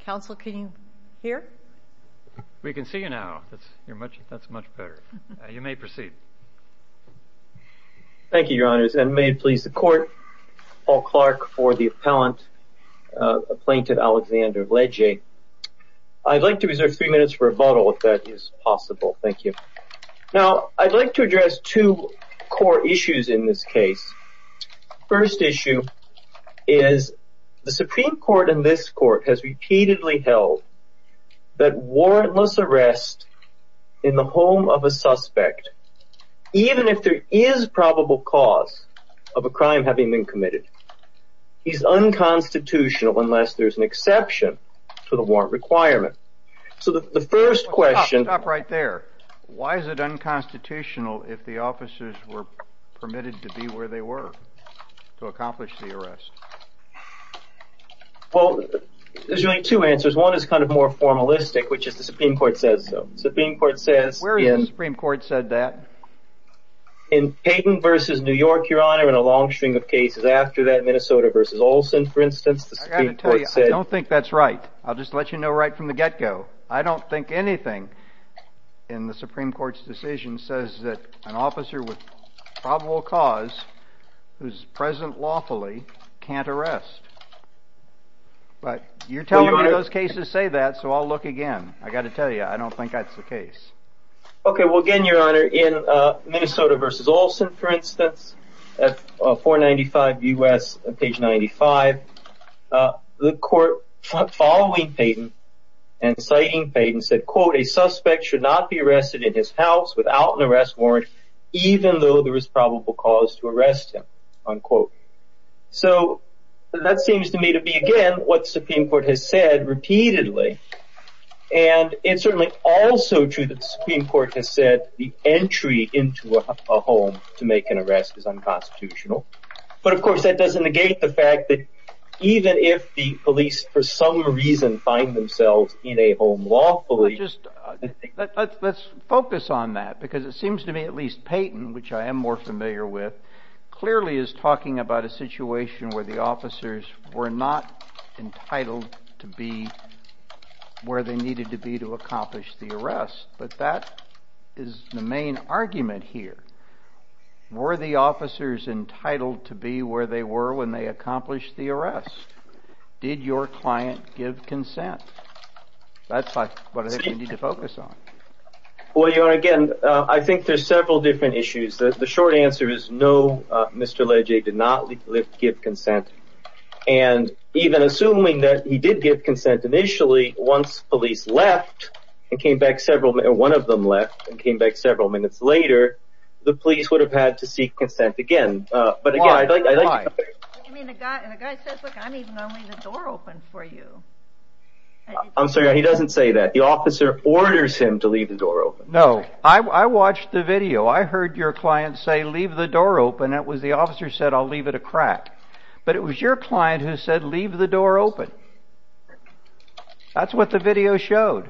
Council, can you hear? We can see you now. That's much better. You may proceed. Thank you, Your Honors, and may it please the Court, Paul Clark for the Appellant Applainted Alexander Lege. I'd like to reserve three minutes for a vote, if that is possible. Now, I'd like to address two core issues in this case. First issue is the Supreme Court and this Court has repeatedly held that warrantless arrest in the home of a suspect, even if there is probable cause of a crime having been committed, is unconstitutional unless there's an exception to the warrant requirement. So the first question... Stop right there. Why is it unconstitutional if the officers were permitted to be where they were to accomplish the arrest? Well, there's really two answers. One is kind of more formalistic, which is the Supreme Court says so. Where has the Supreme Court said that? In Peyton v. New York, Your Honor, and a long string of cases after that, Minnesota v. Olson, for instance, the Supreme Court said... I've got to tell you, I don't think that's right. I'll just let you know right from the get-go. I don't think anything in the Supreme Court's decision says that an officer with probable cause, who's present lawfully, can't arrest. But you're telling me those cases say that, so I'll look again. I've got to tell you, I don't think that's the case. Okay, well, again, Your Honor, in Minnesota v. Olson, for instance, at 495 U.S., page 95, the Court, following Peyton and citing Peyton, said, quote, So that seems to me to be, again, what the Supreme Court has said repeatedly. And it's certainly also true that the Supreme Court has said the entry into a home to make an arrest is unconstitutional. But, of course, that doesn't negate the fact that even if the police, for some reason, find themselves in a home lawfully... But just let's focus on that, because it seems to me at least Peyton, which I am more familiar with, clearly is talking about a situation where the officers were not entitled to be where they needed to be to accomplish the arrest. But that is the main argument here. Were the officers entitled to be where they were when they accomplished the arrest? Did your client give consent? That's what I think we need to focus on. Well, Your Honor, again, I think there's several different issues. The short answer is no, Mr. Legge did not give consent. And even assuming that he did give consent initially, once police left and came back several minutes, one of them left and came back several minutes later, the police would have had to seek consent again. But again, I'd like... I mean, the guy says, look, I'm even going to leave the door open for you. I'm sorry, he doesn't say that. The officer orders him to leave the door open. No, I watched the video. I heard your client say, leave the door open. That was the officer said, I'll leave it a crack. But it was your client who said, leave the door open. That's what the video showed.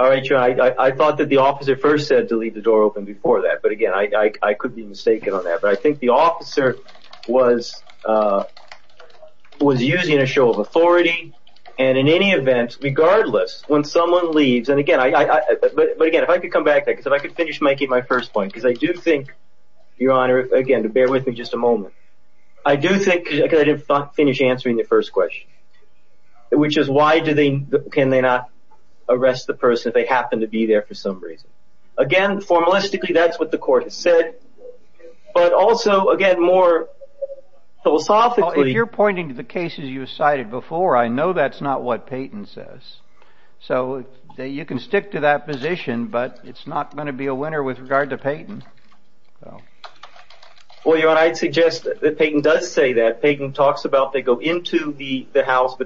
All right, Your Honor, I thought that the officer first said to leave the door open before that. But again, I could be mistaken on that. But I think the officer was using a show of authority. And in any event, regardless, when someone leaves, and again, but again, if I could come back, if I could finish making my first point, because I do think, Your Honor, again, to bear with me just a moment. I do think because I didn't finish answering the first question, which is why do they, can they not arrest the person if they happen to be there for some reason? Again, formalistically, that's what the court has said. But also, again, more philosophically. If you're pointing to the cases you cited before, I know that's not what Peyton says. So you can stick to that position, but it's not going to be a winner with regard to Peyton. Well, Your Honor, I'd suggest that Peyton does say that. Peyton talks about they go into the house,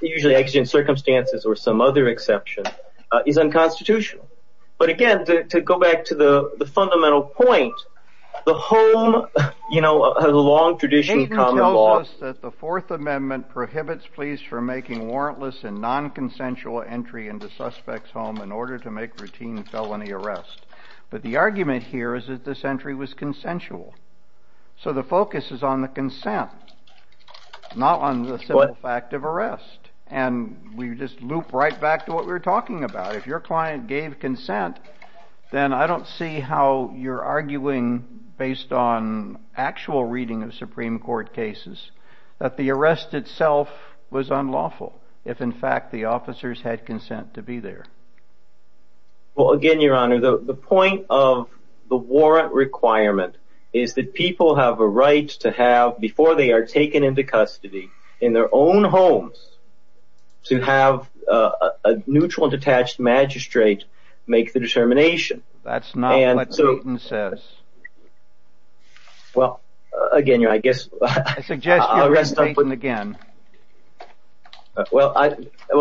usually exigent circumstances or some other exception is unconstitutional. But again, to go back to the fundamental point, the home, you know, has a long tradition. Peyton tells us that the Fourth Amendment prohibits police from making warrantless and non-consensual entry into suspect's home in order to make routine felony arrest. But the argument here is that this entry was consensual. So the focus is on the consent, not on the simple fact of arrest. And we just loop right back to what we were talking about. If your client gave consent, then I don't see how you're arguing based on actual reading of Supreme Court cases that the arrest itself was unlawful if, in fact, the officers had consent to be there. Well, again, Your Honor, the point of the warrant requirement is that people have a right to have, before they are taken into custody in their own homes, to have a neutral and detached magistrate make the determination. That's not what Peyton says. Well, again, Your Honor, I guess... I suggest you arrest Peyton again. Well,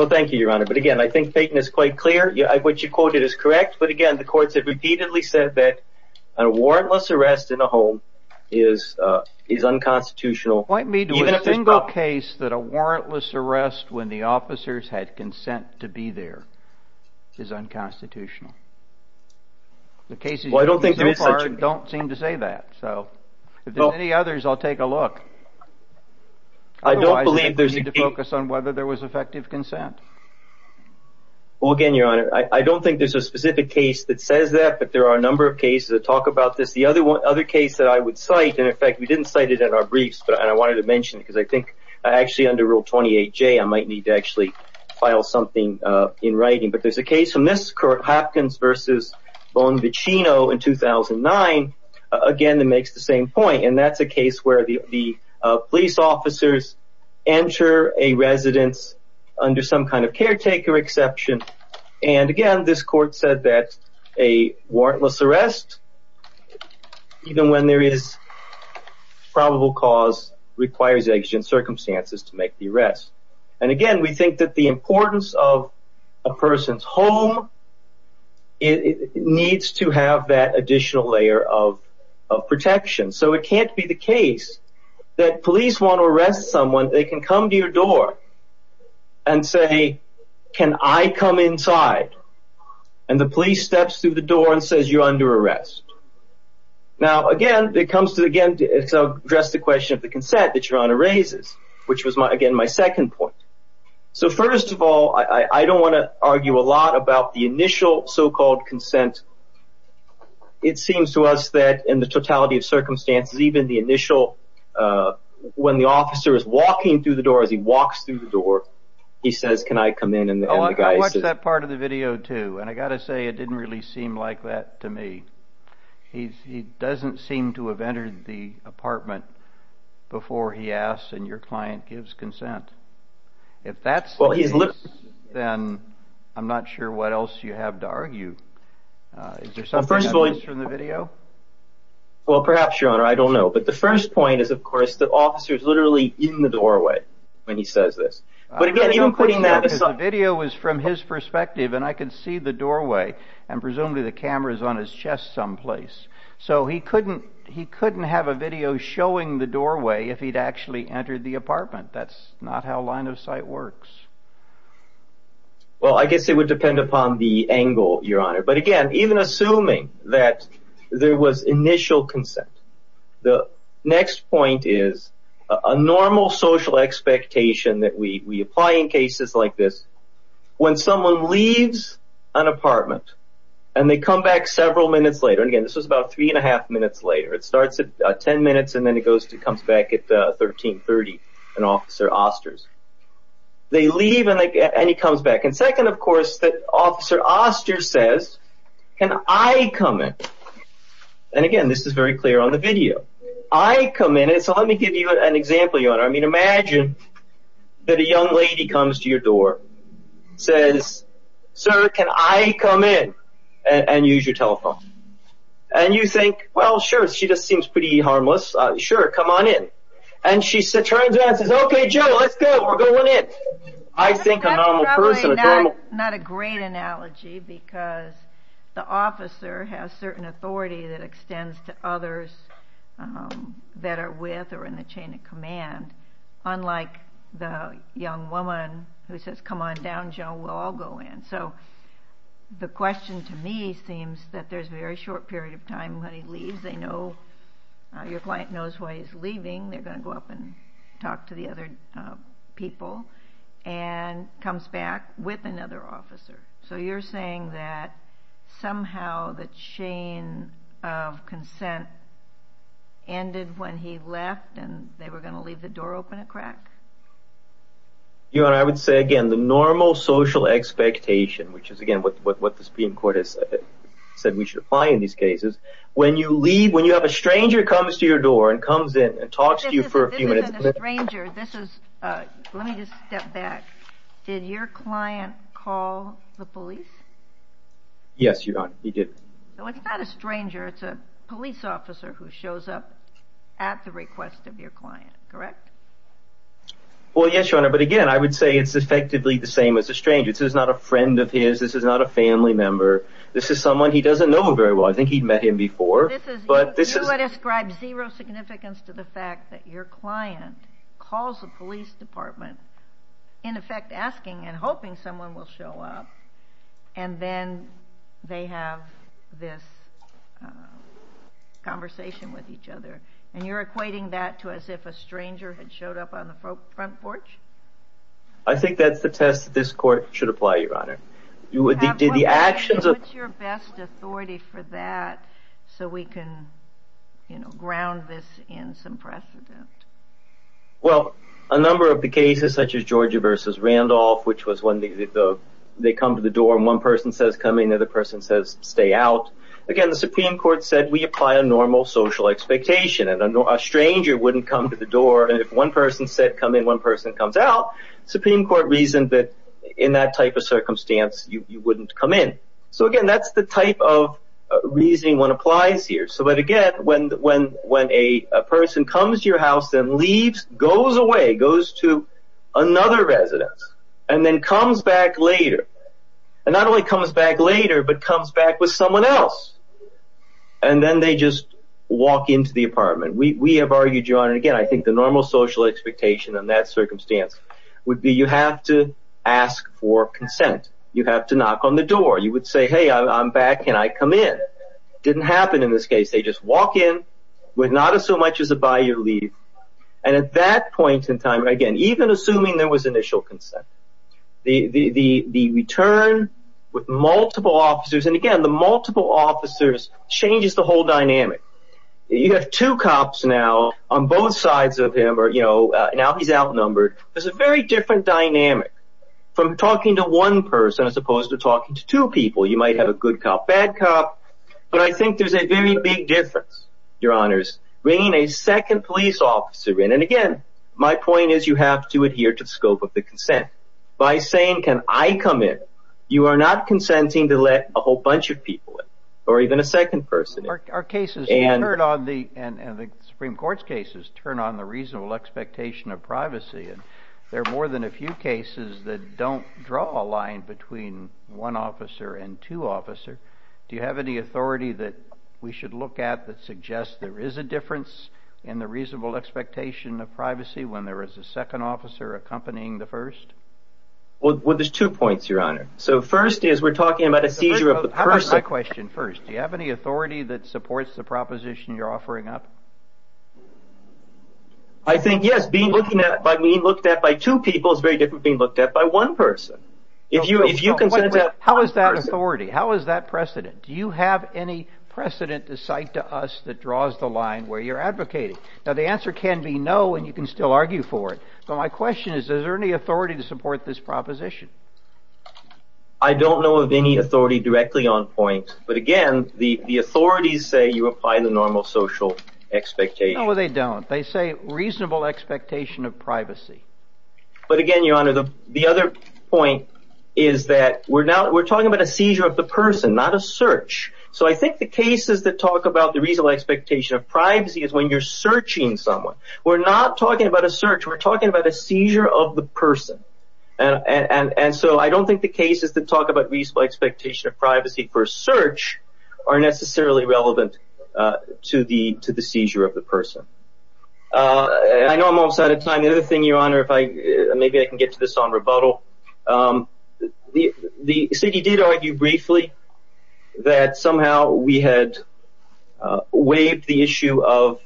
thank you, Your Honor. But again, I think Peyton is quite clear. What you quoted is correct. But again, the courts have repeatedly said that a warrantless arrest in a home is unconstitutional. Point me to a single case that a warrantless arrest when the officers had consent to be there is unconstitutional. The cases so far don't seem to say that. So if there's any others, I'll take a look. Otherwise, I think we need to focus on whether there was effective consent. Well, again, Your Honor, I don't think there's a specific case that says that, but there are a number of cases that talk about this. The other case that I would cite, in effect, we didn't cite it in our briefs, but I wanted to mention it because I think actually under Rule 28J, I might need to actually file something in writing. But there's a case from this, Hopkins v. Bonvicino in 2009, again, that makes the same point. And that's a case where the police officers enter a residence under some kind of caretaker exception. And again, this court said that a warrantless arrest, even when there is probable cause, requires exigent circumstances to make the arrest. And again, we think that the importance of a person's home needs to have that additional layer of protection. So it can't be the case that police want to arrest someone, they can come to your door and say, can I come inside? And the police steps through the door and says, you're under arrest. Now, again, it comes to, again, address the question of the consent that Your Honor raises, which was my, again, my second point. So first of all, I don't want to argue a lot about the initial so-called consent. It seems to us that in the totality of circumstances, even the initial when the officer is walking through the door, as he walks through the door, he says, can I come in? I watched that part of the video, too. And I got to say, it didn't really seem like that to me. He doesn't seem to have entered the apartment before he asks and your client gives consent. If that's the case, then I'm not sure what else you have to argue. Is there something else in the video? Well, perhaps, Your Honor, I don't know. But the first point is, of course, the officer is literally in the doorway when he says this. But again, even putting that video was from his perspective, and I could see the doorway and presumably the cameras on his chest someplace. So he couldn't he couldn't have a video showing the doorway if he'd actually entered the apartment. That's not how line of sight works. Well, I guess it would depend upon the angle, Your Honor. But again, even assuming that there was initial consent, the next point is a normal social expectation that we apply in cases like this, when someone leaves an apartment, and they come back several minutes later. And again, this was about three and a half minutes later, it starts at 10 minutes, and then it goes to comes back at 1330. And Officer Osters, they leave and he comes back. And second, of course, that Officer Osters says, Can I come in? And again, this is very clear on the video, I come in. So let me give you an example, Your Honor. I mean, imagine that a young lady comes to your door, says, Sir, can I come in and use your telephone? And you think, well, sure, she just seems pretty harmless. Sure, come on in. And she said, turns out says, Okay, Joe, let's go. We're going in. I think a normal person. Not a great analogy, because the officer has certain authority that extends to others that are with or in the chain of command. Unlike the young woman who says, Come on down, Joe, we'll all go in. So the question to me seems that there's a very short period of time when he leaves, they know, your client knows why he's leaving, they're going to go up and talk to the other people, and comes back with another officer. So you're saying that somehow the chain of consent ended when he left, and they were going to leave the door open a crack? Your Honor, I would say again, the normal social expectation, which is again, what the Supreme Court has said we should apply in these cases, when you leave, when you have a stranger comes to your door and comes in and talks to you for a few minutes. Stranger, this is, let me just step back. Did your client call the police? Yes, Your Honor, he did. So it's not a stranger, it's a police officer who shows up at the request of your client, correct? Well, yes, Your Honor. But again, I would say it's effectively the same as a stranger. This is not a friend of his, this is not a family member, this is someone he doesn't know very well. I think he'd met him before, but this is... You would ascribe zero significance to the fact that your client calls the police department, in effect asking and hoping someone will show up, and then they have this conversation with each other, and you're equating that to as if a stranger had showed up on the front porch? I think that's the that this court should apply, Your Honor. What's your best authority for that, so we can, you know, ground this in some precedent? Well, a number of the cases, such as Georgia versus Randolph, which was when they come to the door and one person says come in, the other person says stay out. Again, the Supreme Court said we apply a normal social expectation, and a stranger wouldn't come to the door, and if one person said come in, one person comes out. The Supreme Court reasoned that in that type of circumstance, you wouldn't come in. So again, that's the type of reasoning one applies here. So, but again, when a person comes to your house and leaves, goes away, goes to another residence, and then comes back later, and not only comes back later, but comes back with someone else, and then they just walk into the apartment. We have argued, and again, I think the normal social expectation in that circumstance would be you have to ask for consent. You have to knock on the door. You would say, hey, I'm back. Can I come in? Didn't happen in this case. They just walk in with not so much as a by your leave, and at that point in time, again, even assuming there was initial consent, the return with multiple officers, and again, the multiple officers changes the whole dynamic. You have two cops now on both sides of him, or you know, now he's outnumbered. There's a very different dynamic from talking to one person as opposed to talking to two people. You might have a good cop, bad cop, but I think there's a very big difference, your honors, bringing a second police officer in, and again, my point is you have to adhere to the scope of the consent. By saying, can I come in, you are not consenting to let a whole bunch of people in, or even a second person. Our cases turn on the, and the Supreme Court's cases turn on the reasonable expectation of privacy, and there are more than a few cases that don't draw a line between one officer and two officer. Do you have any authority that we should look at that suggests there is a difference in the reasonable expectation of privacy when there is a second officer accompanying the first? Well, there's two points, your honor. So first is we're talking about a seizure of the person. Do you have any authority that supports the proposition you're offering up? I think, yes, being looked at by two people is very different being looked at by one person. How is that authority? How is that precedent? Do you have any precedent to cite to us that draws the line where you're advocating? Now, the answer can be no, and you can still argue for it, but my question is, is there any authority to support this proposition? I don't know of any authority directly on point, but again, the authorities say you apply the normal social expectation. No, they don't. They say reasonable expectation of privacy. But again, your honor, the other point is that we're now, we're talking about a seizure of the person, not a search. So I think the cases that talk about the reasonable expectation of privacy is when you're searching someone. We're not talking about a search. We're talking about a seizure of the person. And so I don't think the cases that talk about reasonable expectation of privacy for a search are necessarily relevant to the seizure of the person. I know I'm almost out of time. The other thing, your honor, if I, maybe I can get to this on rebuttal. The city did argue briefly that somehow we had waived the issue of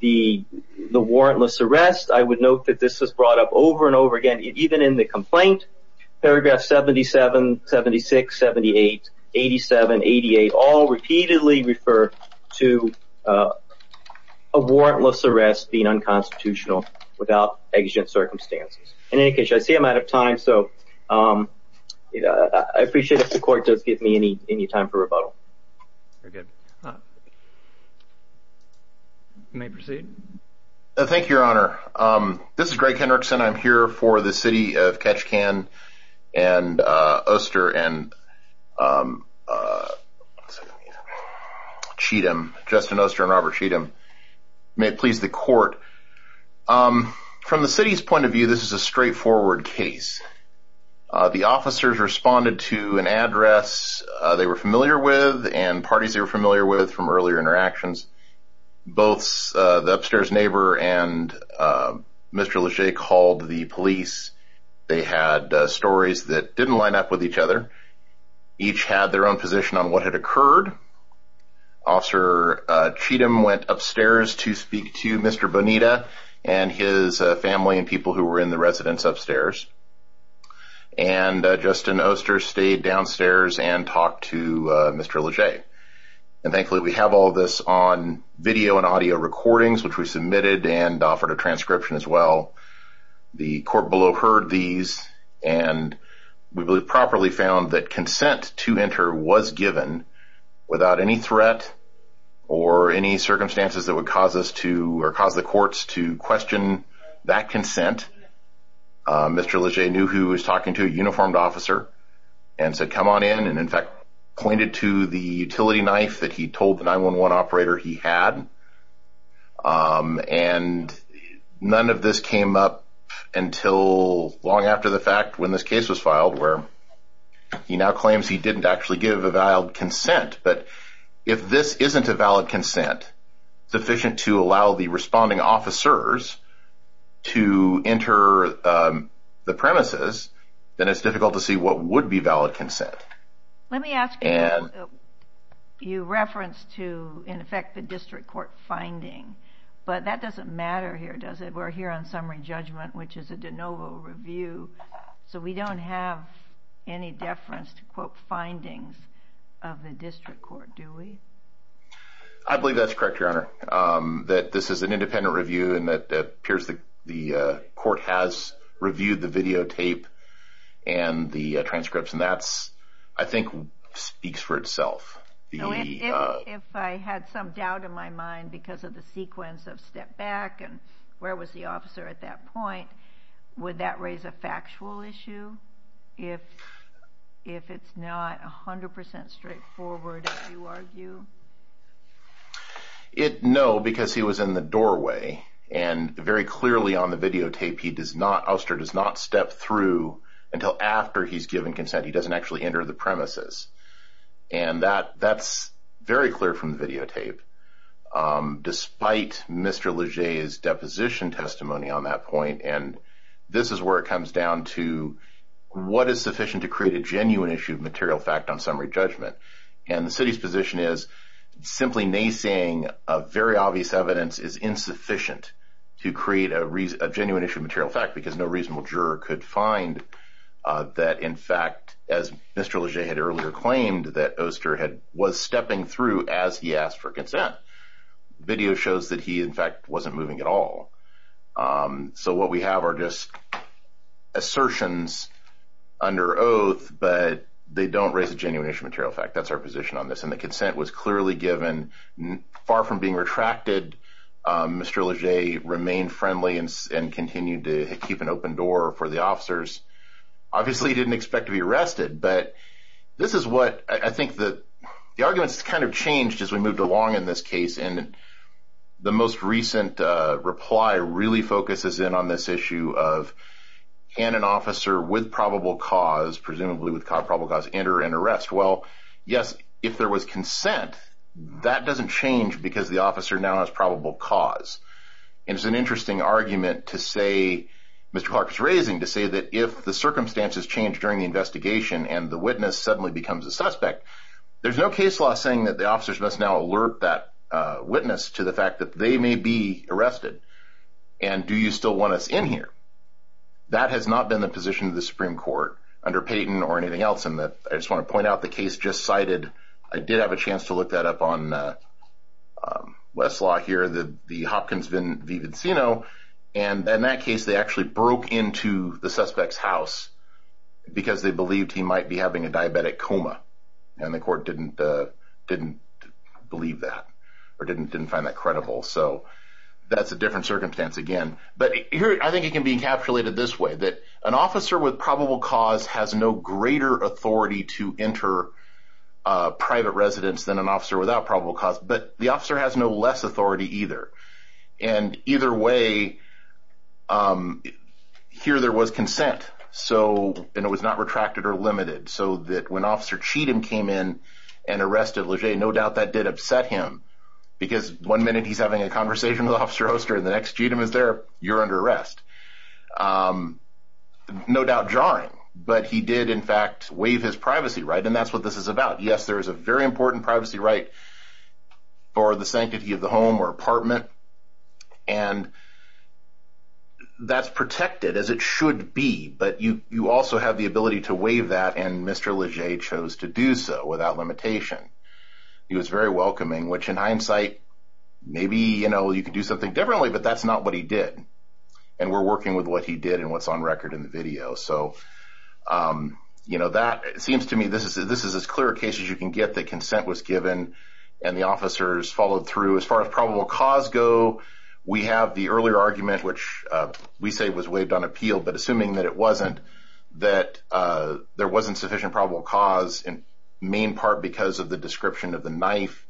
the warrantless arrest. I would note that this was brought up over and over again, even in the complaint, paragraph 77, 76, 78, 87, 88, all repeatedly refer to a warrantless arrest being unconstitutional without exigent circumstances. In any case, I see I'm out of time. So I appreciate if the court does give me any time for rebuttal. You're good. You may proceed. Thank you, your honor. This is Greg Henrickson. I'm here for the city of Ketchikan and Oster and Cheatham, Justin Oster and Robert Cheatham. May it please the court. From the city's point of view, this is a straightforward case. The officers responded to an address they were familiar with and parties they were familiar with from earlier interactions. Both the upstairs neighbor and Mr. Leger called the police. They had stories that didn't line up with each other. Each had their own position on what had occurred. Officer Cheatham went upstairs to speak to Mr. Bonita and his family and people who were in the residence upstairs. And Justin Oster stayed downstairs and talked to Mr. Leger. And thankfully, we have all this on video and audio recordings, which we submitted and offered a transcription as well. The court below heard these and we properly found that consent to enter was given without any threat or any circumstances that would cause us to or cause the courts to question that consent. Mr. Leger knew who was talking to a uniformed officer and said, come on in, and in fact, pointed to the utility knife that he told the 911 operator he had. And none of this came up until long after the fact when this case was filed, where he now claims he didn't actually give a valid consent. But if this isn't a valid consent, sufficient to allow the responding officers to enter the premises, then it's difficult to see what would be valid consent. Let me ask you, you referenced to, in effect, the district court finding, but that doesn't matter here, does it? We're here on summary judgment, which is a de novo review, so we don't have any deference to quote findings of the district court, do we? I believe that's correct, Your Honor. That this is an independent review and that appears the court has reviewed the videotape and the transcripts, and that, I think, speaks for itself. If I had some doubt in my mind because of the sequence of step back and where was the officer at that point, would that raise a factual issue? If it's not 100% straightforward, if you argue? No, because he was in the doorway and very clearly on the videotape, he does not step through until after he's given consent. He doesn't actually enter the premises, and that's very clear from the videotape. Despite Mr. Leger's deposition testimony on that point, and this is where it comes down to what is sufficient to create a genuine issue of material fact on summary judgment, and the city's position is simply naysaying of very obvious evidence is insufficient to create a genuine issue of material fact because no reasonable juror could find that, in fact, as Mr. Leger had earlier claimed that Oster was stepping through as he asked for consent. Video shows that he, in fact, wasn't moving at all, so what we have are just assertions under oath, but they don't raise a genuine issue of material fact. That's our position on this, and the consent was clearly given far from being retracted. Mr. Leger remained friendly and continued to keep an open door for the officers. Obviously, he didn't expect to be arrested, but this is what I think the arguments kind of changed as we moved along in this case, and the most recent reply really focuses in on this issue of can an officer with probable cause, presumably with probable cause, enter an arrest? Well, yes, if there was consent, that doesn't change because the officer now has probable cause, and it's an interesting argument to say, Mr. Clark is raising to say that if the circumstances change during the investigation and the witness suddenly becomes a suspect, there's no case law saying that the officers must now alert that witness to the fact that they may be arrested, and do you still want us in here? That has not been the position of the Supreme Court under Payton or anything else, and I just want to point out the case just cited, I did have a chance to look that up on Westlaw here, the Hopkins v. Vincino, and in that case, they actually broke into the suspect's house because they believed he might be having a diabetic coma, and the court didn't believe that or didn't find that credible, so that's a different circumstance again, but here, I think it can be encapsulated this way, that an officer with probable cause has no greater authority to enter private residence than an officer without probable cause, but the officer has no less authority either, and either way, here there was consent, and it was not retracted or limited, so that when Officer Cheatham came in and arrested Leger, no doubt that did upset him, because one minute he's having a conversation with Officer Oster, and the next Cheatham is there, you're under arrest, no doubt jarring, but he did in fact waive his privacy right, and that's what this is about, yes, there is a very important privacy right for the sanctity of the home or apartment, and that's protected as it should be, but you also have the ability to waive that, and Mr. Leger chose to do so without limitation, he was very welcoming, which in hindsight, maybe you could do something differently, but that's not what he did, and we're working with what he did, and what's on record in the video, so you know, that seems to me, this is as clear a case as you can get, that consent was given, and the officers followed through, as far as probable cause go, we have the earlier argument, which we say was waived on appeal, but assuming that it wasn't, that there wasn't sufficient probable cause, in main part because of the description of the knife,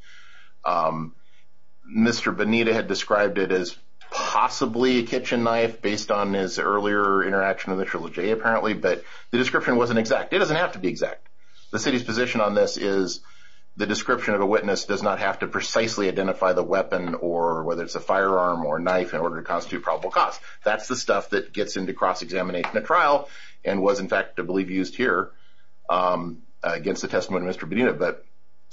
Mr. Bonita had described it as possibly a kitchen knife, based on his earlier interaction with Mr. Leger apparently, but the description wasn't exact, it doesn't have to be exact, the city's position on this is, the description of a witness does not have to precisely identify the weapon, or whether it's a firearm or knife, in order to constitute probable cause, that's the stuff that gets into cross-examination at trial, and was in fact, I believe used here, against the testimony of Mr. Bonita, but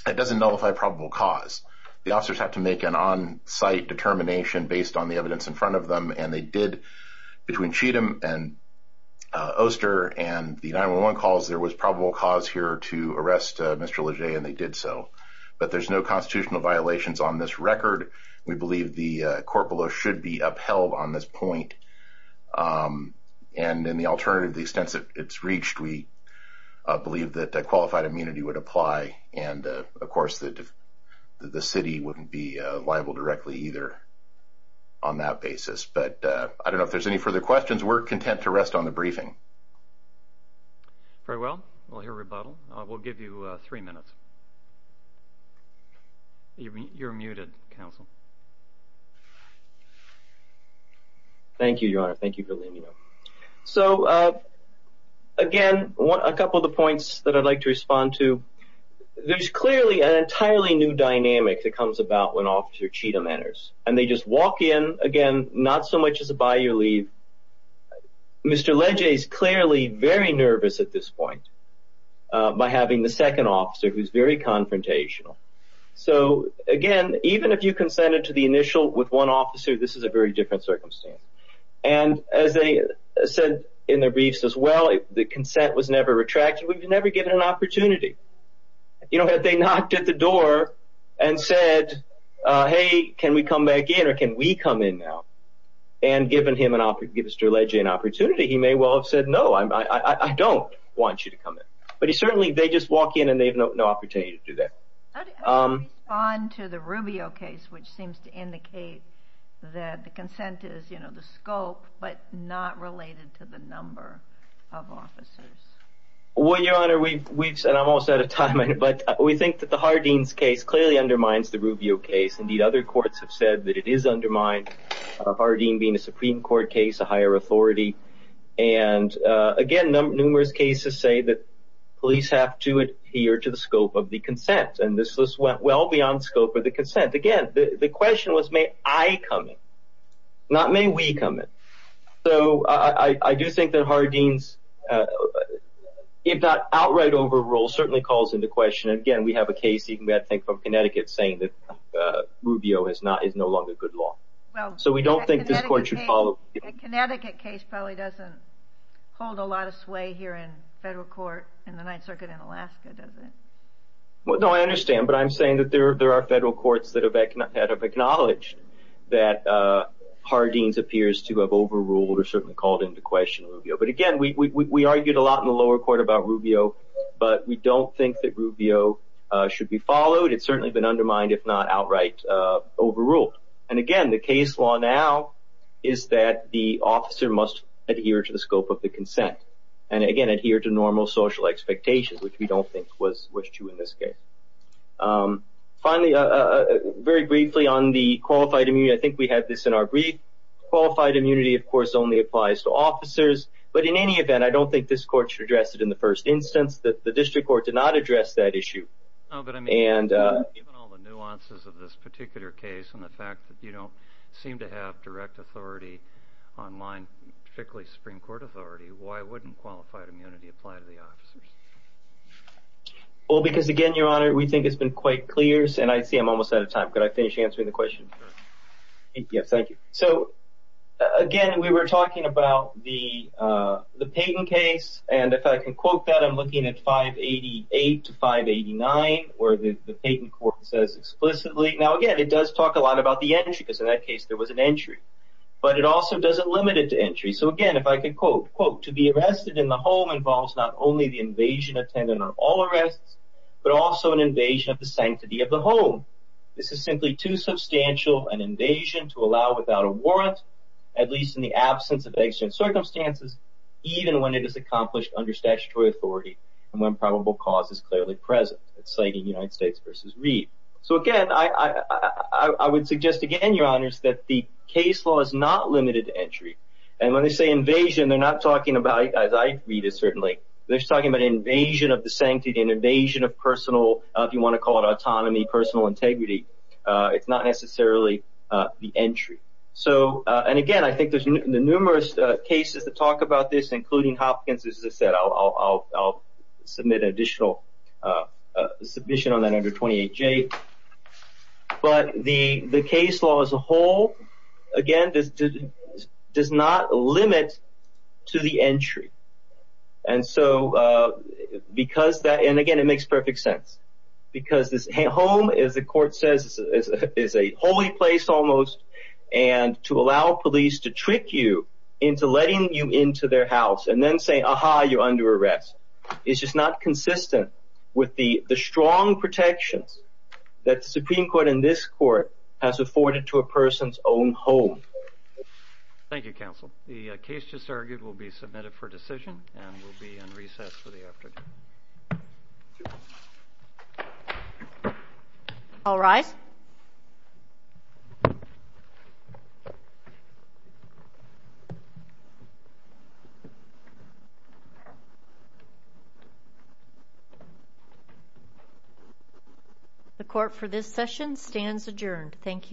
it doesn't nullify probable cause, the officers have to make an on-site determination, based on the evidence in front of them, and they did, between Cheatham and Oster, and the 911 calls, there was probable cause here to arrest Mr. Leger, and they did so, but there's no constitutional violations on this record, we believe the court below should be upheld on this point, and in the alternative, the extensive it's reached, we believe that qualified immunity would apply, and of course, the city wouldn't be on that basis, but I don't know if there's any further questions, we're content to rest on the briefing. Very well, we'll hear a rebuttal, we'll give you three minutes. You're muted, counsel. Thank you, your honor, thank you for letting me know. So, again, a couple of the points that I'd like to respond to, there's clearly an entirely new dynamic that comes about when officer Cheatham enters, and they just walk in, again, not so much as a buy-your-leave, Mr. Leger is clearly very nervous at this point, by having the second officer, who's very confrontational. So, again, even if you consented to the initial with one officer, this is a very different circumstance, and as they said in their briefs as well, the consent was never retracted, we've never given an opportunity. You know, if they knocked at the door and said, hey, can we come back in, or can we come in now, and given Mr. Leger an opportunity, he may well have said, no, I don't want you to come in, but he certainly, they just walk in, and they have no opportunity to do that. How do you respond to the Rubio case, which seems to indicate that the consent is, you know, the scope, but not related to the number of officers? Well, Your Honor, we've, and I'm almost out of time, but we think that the Hardeen's case clearly undermines the Rubio case. Indeed, other courts have said that it is undermined, Hardeen being a Supreme Court case, a higher authority, and again, numerous cases say that police have to adhere to the scope of the consent, and this was well beyond scope of the consent. Again, the question was, may I come in, not may we come in, so I do think that Hardeen's, if not outright overrule, certainly calls into question, and again, we have a case even, I think, from Connecticut saying that Rubio is not, is no longer good law, so we don't think this court should follow. The Connecticut case probably doesn't hold a lot of sway here in federal court in the Ninth Circuit in Alaska, does it? Well, no, I understand, but I'm saying that there are federal courts that have acknowledged that Hardeen's appears to have overruled or certainly called into question Rubio, but again, we argued a lot in the lower court about Rubio, but we don't think that Rubio should be followed. It's certainly been undermined, if not outright overruled, and again, the case law now is that the officer must adhere to the scope of the consent, and again, adhere to normal social expectations, which we don't think was true in this case. Finally, very briefly on the qualified immunity, I think we had this in our brief. Qualified immunity, of course, only applies to officers, but in any event, I don't think this court should address it in the first instance. The district court did not address that issue. No, but I mean, given all the nuances of this particular case and the fact that you don't seem to have direct authority online, particularly Supreme Court authority, why wouldn't qualified immunity apply to the officers? Well, because again, Your Honor, we think it's been quite clear, and I see I'm almost out of time. Could I finish answering the question? Yes, thank you. So again, we were talking about the Payton case, and if I can quote that, I'm looking at 588 to 589, where the Payton court says explicitly. Now again, it does talk a lot about the entry, because in that case, there was an entry, but it also doesn't limit it to entry. So again, if I could quote, quote, So again, I would suggest again, Your Honors, that the case law is not limited to entry, and when they say invasion, they're not talking about, as I read it certainly, they're talking about invasion of the sanctity and invasion of personal, if you want to call it autonomy, personal integrity. It's not necessarily the entry. So and again, I think there's numerous cases that talk about this, including Hopkins. As I said, I'll submit an additional submission on that under 28J. But the case law as a whole, again, does not limit to the entry. And so because that, and again, it makes perfect sense, because this home, as the court says, is a holy place almost, and to allow police to trick you into letting you into their house, and then say, aha, you're under arrest, is just not consistent with the strong protections that the Supreme Court in this court has afforded to a person's own home. Thank you, counsel. The case just argued will be submitted for decision, and will be in recess for the afternoon. All rise. Thank you. The court for this session stands adjourned. Thank you.